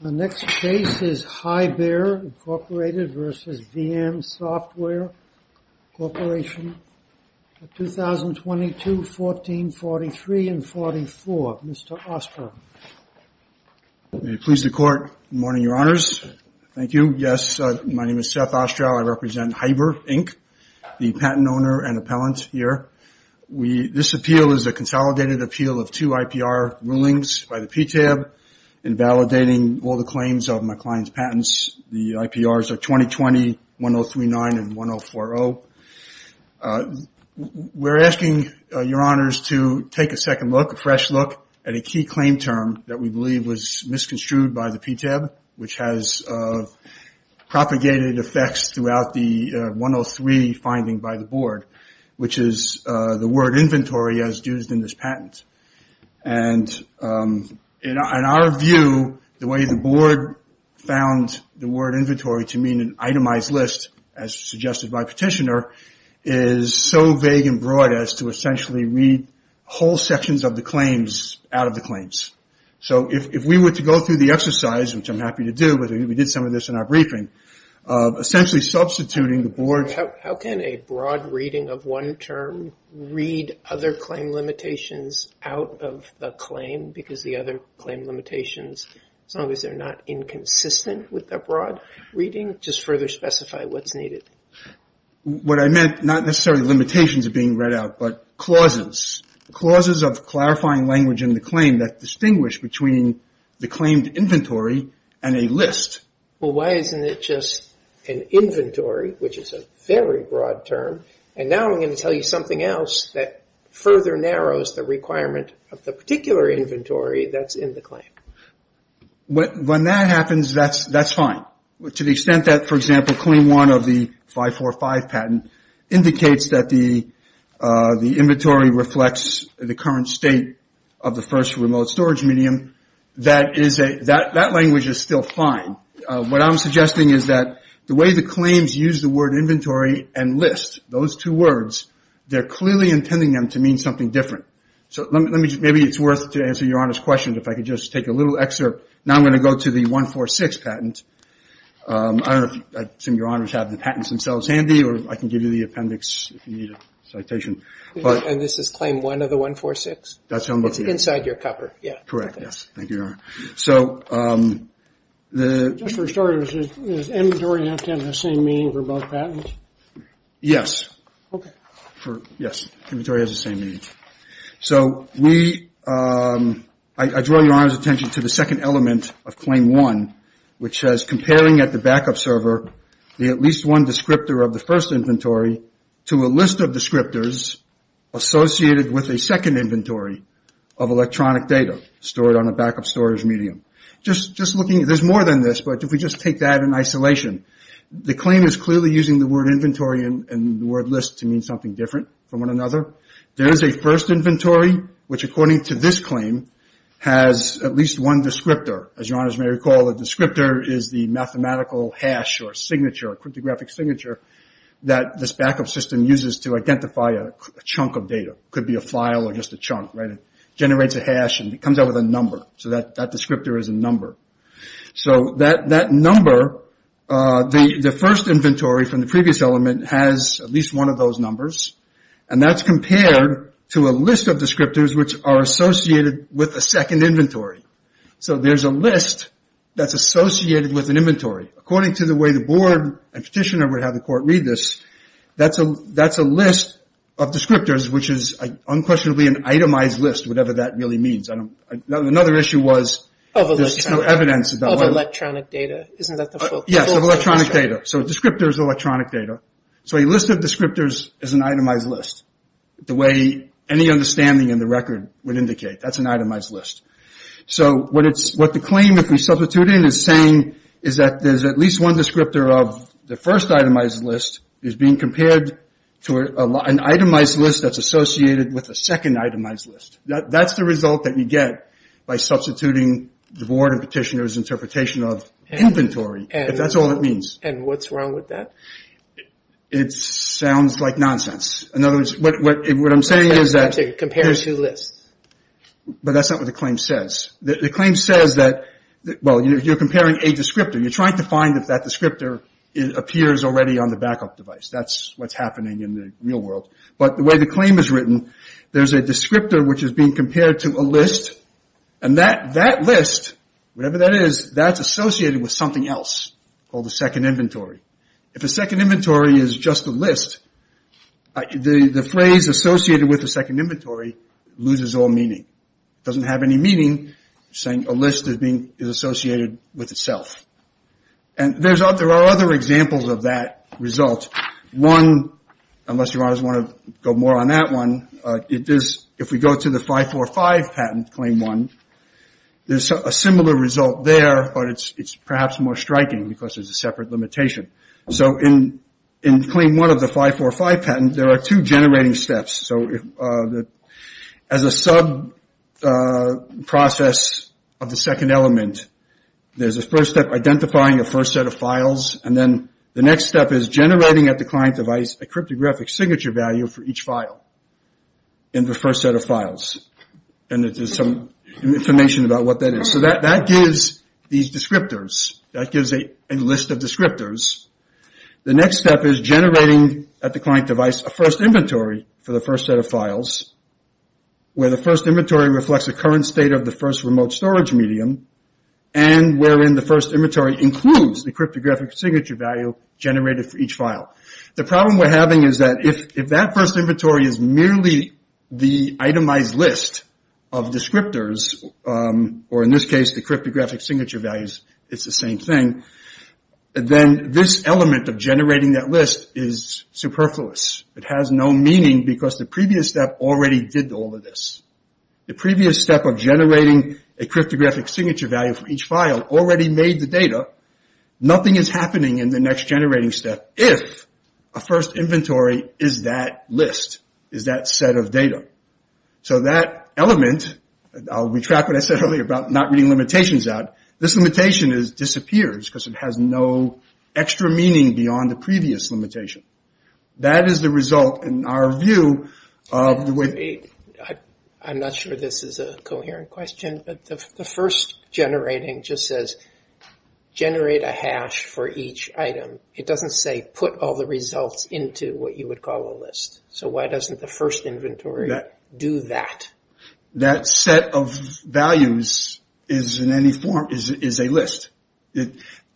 The next case is Hi-Bear, Inc. v. Veeam Software Corporation, 2022-14-43-44. Mr. Ostrow. May it please the Court. Good morning, Your Honors. Thank you. Yes, my name is Seth Ostrow. I represent Hiber, Inc., the patent owner and appellant here. This appeal is a consolidated appeal of two IPR rulings by the PTAB, invalidating all the claims of my client's patents. The IPRs are 2020-1039 and 1040. We're asking Your Honors to take a second look, a fresh look, at a key claim term that we believe was misconstrued by the PTAB, which has propagated effects throughout the 103 finding by the Board, which is the word inventory as used in this patent. And in our view, the way the Board found the word inventory to mean an itemized list, as suggested by Petitioner, is so vague and broad as to essentially read whole sections of the claims out of the claims. So if we were to go through the exercise, which I'm happy to do, we did some of this in our briefing, essentially substituting the Board's broad reading of one term, read other claim limitations out of the claim, because the other claim limitations, as long as they're not inconsistent with the broad reading, just further specify what's needed. What I meant, not necessarily limitations being read out, but clauses. Clauses of clarifying language in the claim that distinguish between the claimed inventory and a list. Well, why isn't it just an inventory, which is a very broad term, and now I'm going to tell you something else that further narrows the requirement of the particular inventory that's in the claim. When that happens, that's fine. To the extent that, for example, Claim 1 of the 545 patent indicates that the inventory reflects the current state of the first remote storage medium, that language is still fine. What I'm suggesting is that the way the claims use the word inventory and list, those two words, they're clearly intending them to mean something different. So maybe it's worth it to answer Your Honor's question, if I could just take a little excerpt. Now I'm going to go to the 146 patent. I assume Your Honors have the patents themselves handy, or I can give you the appendix if you need a citation. And this is Claim 1 of the 146? That's how I'm looking at it. Inside your cover, yeah. Correct, yes. Thank you, Your Honor. Just for starters, does inventory have to have the same meaning for both patents? Yes. Okay. Yes, inventory has the same meaning. So I draw Your Honor's attention to the second element of Claim 1, which says, comparing at the backup server the at least one descriptor of the first descriptors associated with a second inventory of electronic data stored on a backup storage medium. There's more than this, but if we just take that in isolation, the claim is clearly using the word inventory and the word list to mean something different from one another. There is a first inventory, which, according to this claim, has at least one descriptor. As Your Honors may recall, a descriptor is the mathematical hash or signature, that this backup system uses to identify a chunk of data. It could be a file or just a chunk, right? It generates a hash and it comes out with a number. So that descriptor is a number. So that number, the first inventory from the previous element, has at least one of those numbers, and that's compared to a list of descriptors, which are associated with a second inventory. So there's a list that's associated with an inventory. According to the way the board and petitioner would have the court read this, that's a list of descriptors, which is unquestionably an itemized list, whatever that really means. Another issue was there's no evidence. Of electronic data. Yes, of electronic data. So a descriptor is electronic data. So a list of descriptors is an itemized list, the way any understanding in the record would indicate. That's an itemized list. So what the claim, if we substitute in, is saying is that there's at least one descriptor of the first itemized list is being compared to an itemized list that's associated with a second itemized list. That's the result that you get by substituting the board and petitioner's interpretation of inventory, if that's all it means. And what's wrong with that? It sounds like nonsense. In other words, what I'm saying is that... Compare two lists. But that's not what the claim says. The claim says that, well, you're comparing a descriptor. You're trying to find if that descriptor appears already on the backup device. That's what's happening in the real world. But the way the claim is written, there's a descriptor which is being compared to a list, and that list, whatever that is, that's associated with something else called a second inventory. If a second inventory is just a list, the phrase associated with a second inventory loses all meaning. It doesn't have any meaning, saying a list is associated with itself. And there are other examples of that result. One, unless you want to go more on that one, if we go to the 545 patent, Claim 1, there's a similar result there, but it's perhaps more striking because there's a separate limitation. So in Claim 1 of the 545 patent, there are two generating steps. So as a sub-process of the second element, there's a first step identifying a first set of files, and then the next step is generating at the client device a cryptographic signature value for each file in the first set of files. And there's some information about what that is. So that gives these descriptors. That gives a list of descriptors. The next step is generating at the client device a first inventory for the first set of files, where the first inventory reflects the current state of the first remote storage medium, and wherein the first inventory includes the cryptographic signature value generated for each file. The problem we're having is that if that first inventory is merely the itemized list of descriptors, or in this case the cryptographic signature values, it's the same thing, then this element of generating that list is superfluous. It has no meaning because the previous step already did all of this. The previous step of generating a cryptographic signature value for each file already made the data. Nothing is happening in the next generating step if a first inventory is that list, is that set of data. So that element, I'll retract what I said earlier about not reading limitations out. This limitation disappears because it has no extra meaning beyond the previous limitation. That is the result in our view of the way. I'm not sure this is a coherent question, but the first generating just says generate a hash for each item. It doesn't say put all the results into what you would call a list. So why doesn't the first inventory do that? That set of values is a list.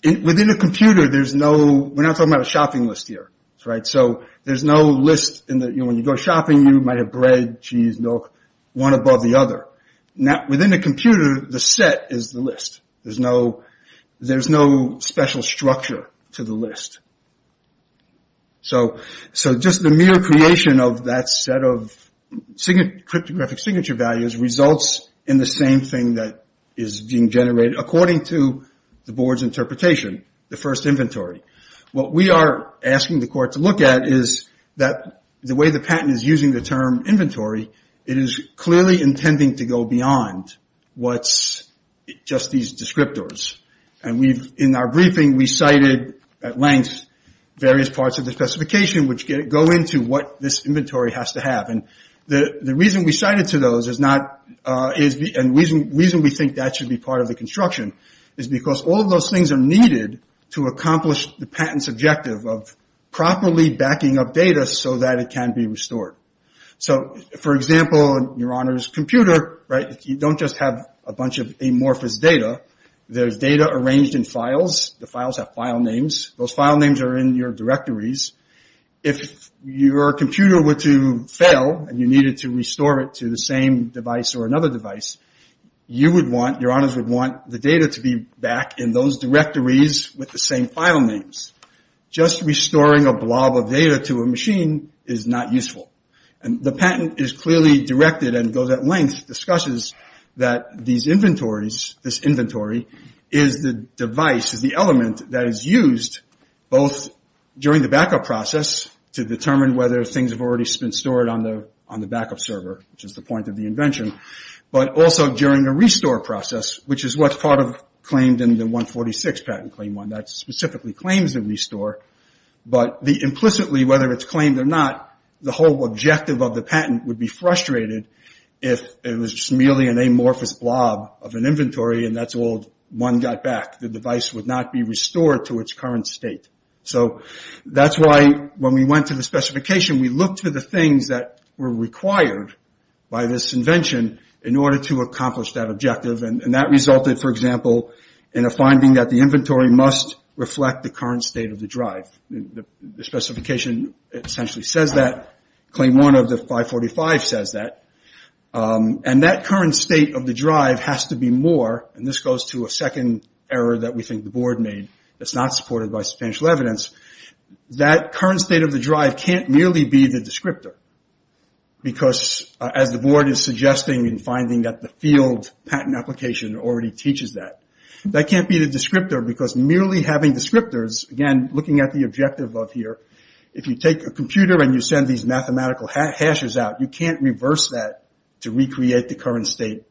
Within a computer there's no, we're not talking about a shopping list here, right? So there's no list, when you go shopping you might have bread, cheese, milk, one above the other. Within a computer the set is the list. There's no special structure to the list. So just the mere creation of that set of cryptographic signature values results in the same thing that is being generated according to the board's interpretation, the first inventory. What we are asking the court to look at is that the way the patent is using the term inventory, it is clearly intending to go beyond what's just these descriptors. In our briefing we cited at length various parts of the specification which go into what this inventory has to have. The reason we cited to those is not, the reason we think that should be part of the construction is because all of those things are needed to accomplish the patent's objective of properly backing up data so that it can be restored. So for example, your honor's computer, right? You don't just have a bunch of amorphous data. There's data arranged in files. The files have file names. Those file names are in your directories. If your computer were to fail and you needed to restore it to the same device or another device, you would want, your honors would want the data to be back in those directories with the same file names. Just restoring a blob of data to a machine is not useful. And the patent is clearly directed and goes at length, discusses that these inventories, this inventory is the device, is the element that is used both during the backup process to determine whether things have already been stored on the backup server, which is the point of the invention, but also during the restore process, which is what's part of claimed in the 146 patent claim one. That specifically claims the restore, but the implicitly whether it's claimed or not, the whole objective of the patent would be frustrated if it was merely an amorphous blob of an inventory and that's all one got back. The device would not be restored to its current state. So that's why when we went to the specification, we looked for the things that were required by this invention in order to accomplish that objective. And that resulted, for example, in a finding that the inventory must reflect the current state of the drive. The specification essentially says that claim one of the 545 says that and that current state of the drive has to be more. And this goes to a second error that we think the board made. It's not supported by substantial evidence. That current state of the drive can't merely be the descriptor because as the board is suggesting and finding that the field patent application already teaches that that can't be the descriptor because merely having descriptors again looking at the objective of here, if you take a computer and you send these mathematical hashes out, you can't reverse that to recreate the current state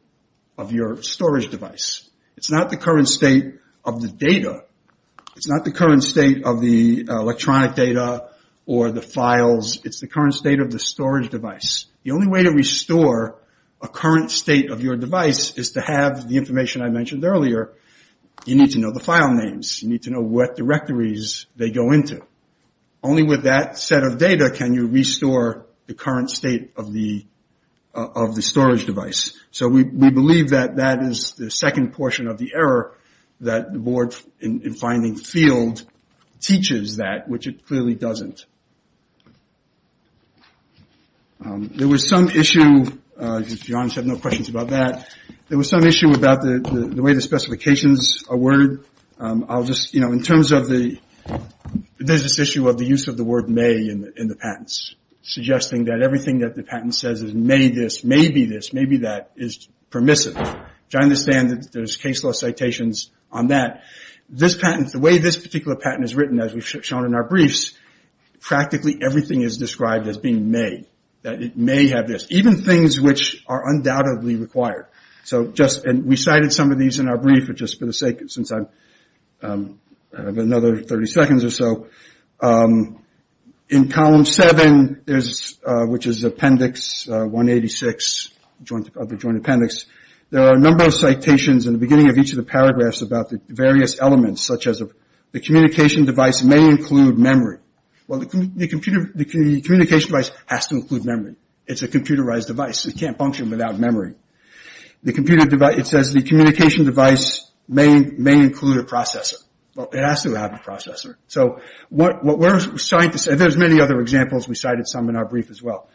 of your storage device. It's not the current state of the data. It's not the current state of the electronic data or the files. It's the current state of the storage device. The only way to restore a current state of your device is to have the information I mentioned earlier. You need to know the file names. You need to know what directories they go into. Only with that set of data can you restore the current state of the storage device. So we believe that that is the second portion of the error that the board in finding field teaches that which it clearly doesn't. There was some issue, if you're honest, I have no questions about that. There was some issue about the way the specifications are worded. There's this issue of the use of the word may in the patents, suggesting that everything that the patent says is may this, may be this, may be that is permissive. I understand that there's case law citations on that. The way this particular patent is written, as we've shown in our briefs, practically everything is described as being may. It may have this. Even things which are undoubtedly required. We cited some of these in our brief, but just for the sake of it since I have another 30 seconds or so. In column seven, which is appendix 186 of the joint appendix, there are a number of citations in the beginning of each of the paragraphs about the various elements such as the communication device may include memory. Well, the communication device has to include memory. It's a computerized device. It can't function without memory. It says the communication device may include a processor. Well, it has to have a processor. There's many other examples. We cited some in our brief as well.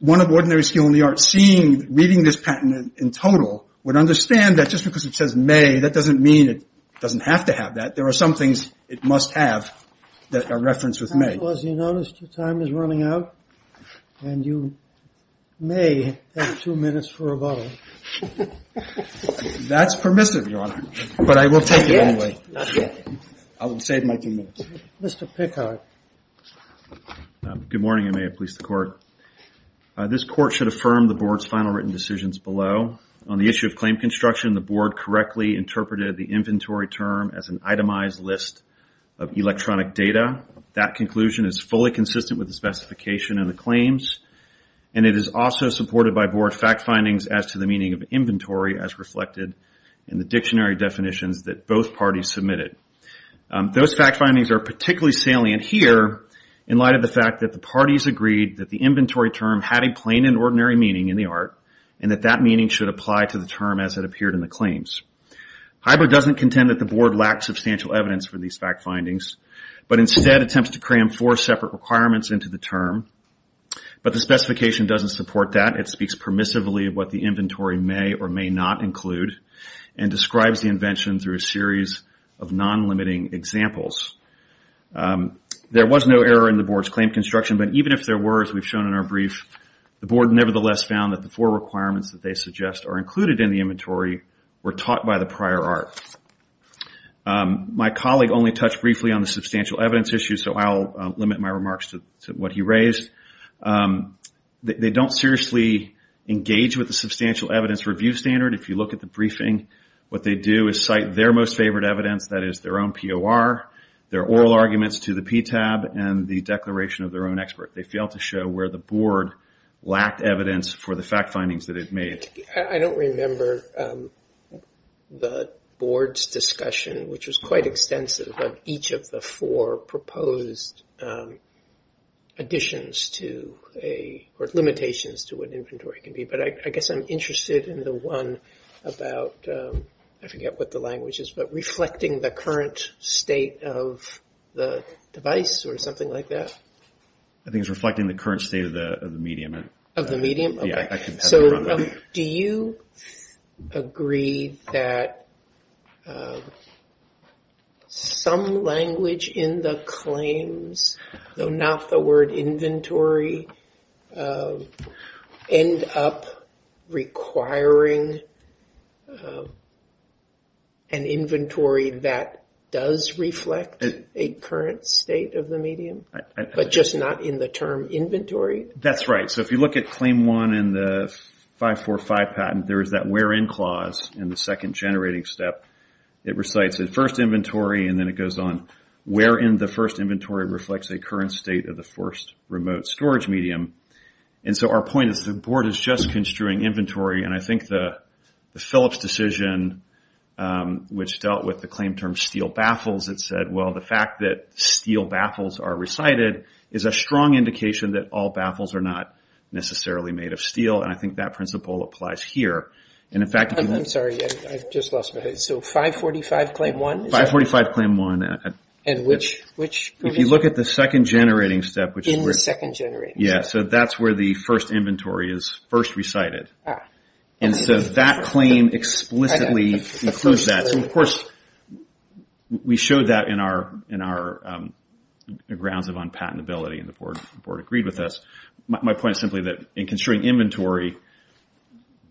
One of ordinary skill in the art seeing, reading this patent in total would understand that just because it says may, that doesn't mean it doesn't have to have that. There are some things it must have that are referenced with may. Well, as you noticed, your time is running out, and you may have two minutes for a bottle. That's permissive, Your Honor, but I will take it anyway. Not yet. I will save my two minutes. Mr. Pickard. Good morning, and may it please the court. This court should affirm the board's final written decisions below. On the issue of claim construction, the board correctly interpreted the inventory term as an itemized list of electronic data. That conclusion is fully consistent with the specification of the claims, and it is also supported by board fact findings as to the meaning of inventory as reflected in the dictionary definitions that both parties submitted. Those fact findings are particularly salient here in light of the fact that the parties agreed that the inventory term had a plain and ordinary meaning in the art, and that that meaning should apply to the term as it appeared in the claims. HIBO doesn't contend that the board lacks substantial evidence for these fact findings, but instead attempts to cram four separate requirements into the term. But the specification doesn't support that. It speaks permissively of what the inventory may or may not include, and describes the invention through a series of non-limiting examples. There was no error in the board's claim construction, but even if there were, as we've shown in our brief, the board nevertheless found that the four requirements that they suggest are included in the inventory were taught by the prior art. My colleague only touched briefly on the substantial evidence issue, so I'll limit my remarks to what he raised. They don't seriously engage with the substantial evidence review standard. If you look at the briefing, what they do is cite their most favored evidence, that is, their own POR, their oral arguments to the PTAB, and the declaration of their own expert. They fail to show where the board lacked evidence for the fact findings that it made. I don't remember the board's discussion, which was quite extensive of each of the four proposed additions to a, or limitations to what inventory can be. But I guess I'm interested in the one about, I forget what the language is, but reflecting the current state of the device or something like that. I think it's reflecting the current state of the medium. Of the medium? Yeah. So do you agree that some language in the claims, though not the word inventory, end up requiring an inventory that does reflect a current state of the medium? But just not in the term inventory? That's right. So if you look at claim one in the 545 patent, there is that where in clause in the second generating step. It recites the first inventory, and then it goes on where in the first inventory reflects a current state of the first remote storage medium. And so our point is the board is just construing inventory, and I think the Phillips decision, which dealt with the claim term steel baffles, it said, well, the fact that steel baffles are recited is a strong indication that all necessarily made of steel, and I think that principle applies here. I'm sorry, I just lost my head. So 545 claim one? 545 claim one. And which provision? If you look at the second generating step. In the second generating step. Yeah, so that's where the first inventory is first recited. And so that claim explicitly includes that. So of course we showed that in our grounds of unpatentability, and the board agreed with us. My point is simply that in construing inventory,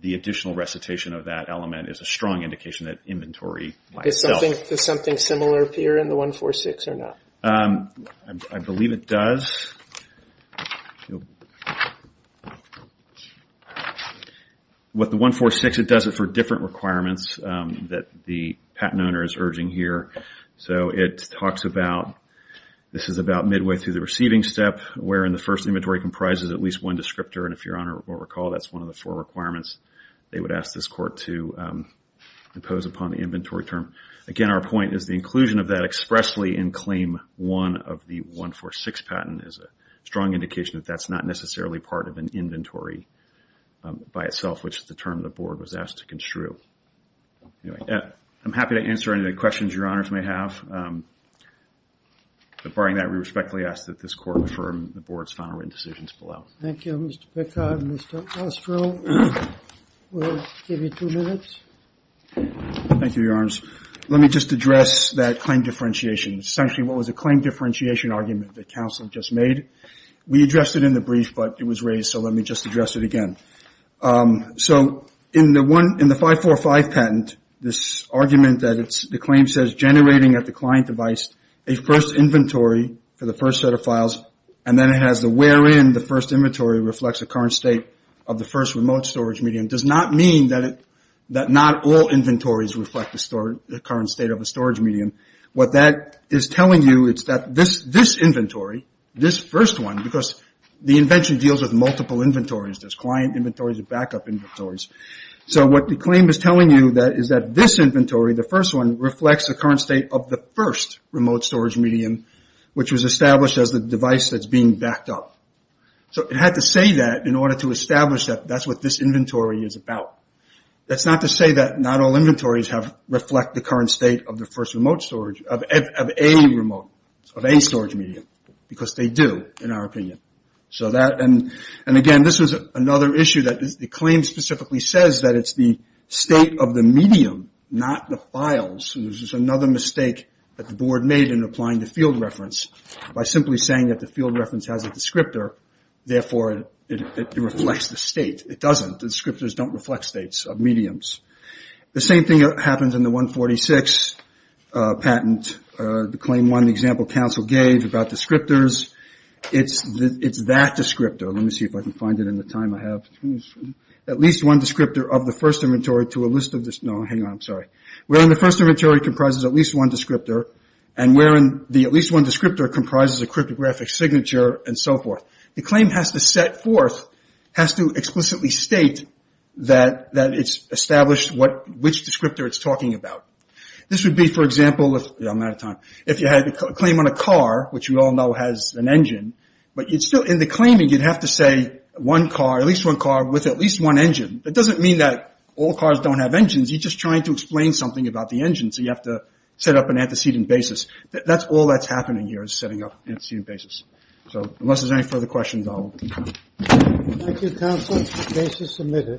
the additional recitation of that element is a strong indication that inventory by itself. Does something similar appear in the 146 or not? I believe it does. With the 146, it does it for different requirements that the patent owner is urging here. So it talks about, this is about midway through the receiving step, wherein the first inventory comprises at least one descriptor. And if Your Honor will recall, that's one of the four requirements they would ask this court to impose upon the inventory term. Again, our point is the inclusion of that expressly in claim one of the 146 patent is a strong indication that that's not necessarily part of an inventory by itself, which is the term the board was asked to construe. I'm happy to answer any questions Your Honors may have. But barring that, we respectfully ask that this court affirm the board's final written decisions below. Thank you, Mr. Pickard. Mr. Ostro, we'll give you two minutes. Thank you, Your Honors. Let me just address that claim differentiation. Essentially, what was a claim differentiation argument that counsel just made? We addressed it in the brief, but it was raised, so let me just address it again. So in the 545 patent, this argument that the claim says generating at the client device a first inventory for the first set of files, and then it has the where in the first inventory reflects the current state of the first remote storage medium, does not mean that not all inventories reflect the current state of the storage medium. What that is telling you is that this inventory, this first one, because the invention deals with multiple inventories, there's client inventories and backup inventories. So what the claim is telling you is that this inventory, the first one, reflects the current state of the first remote storage medium, which was established as the device that's being backed up. So it had to say that in order to establish that that's what this inventory is about. That's not to say that not all inventories reflect the current state of the first remote storage, of a remote, of a storage medium, because they do in our opinion. So that, and again, this was another issue that the claim specifically says that it's the state of the medium, not the files. This is another mistake that the board made in applying the field reference by simply saying that the field reference has a descriptor. Therefore, it reflects the state. It doesn't. The descriptors don't reflect states of mediums. The same thing happens in the 146 patent, the claim one example council gave about descriptors. It's that descriptor. Let me see if I can find it in the time I have. At least one descriptor of the first inventory to a list of this. No, hang on. I'm sorry. We're in the first inventory comprises at least one descriptor and we're in the at least one descriptor comprises a cryptographic signature and so forth. The claim has to set forth, has to explicitly state that, that it's established what, which descriptor it's talking about. This would be, for example, if I'm out of time, if you had a claim on a car, which we all know has an engine, but you'd still in the claiming, you'd have to say one car, at least one car with at least one engine. That doesn't mean that all cars don't have engines. You're just trying to explain something about the engine. So you have to set up an antecedent basis. That's all that's happening here is setting up an antecedent basis. So unless there's any further questions, I'll. Thank you, counsel.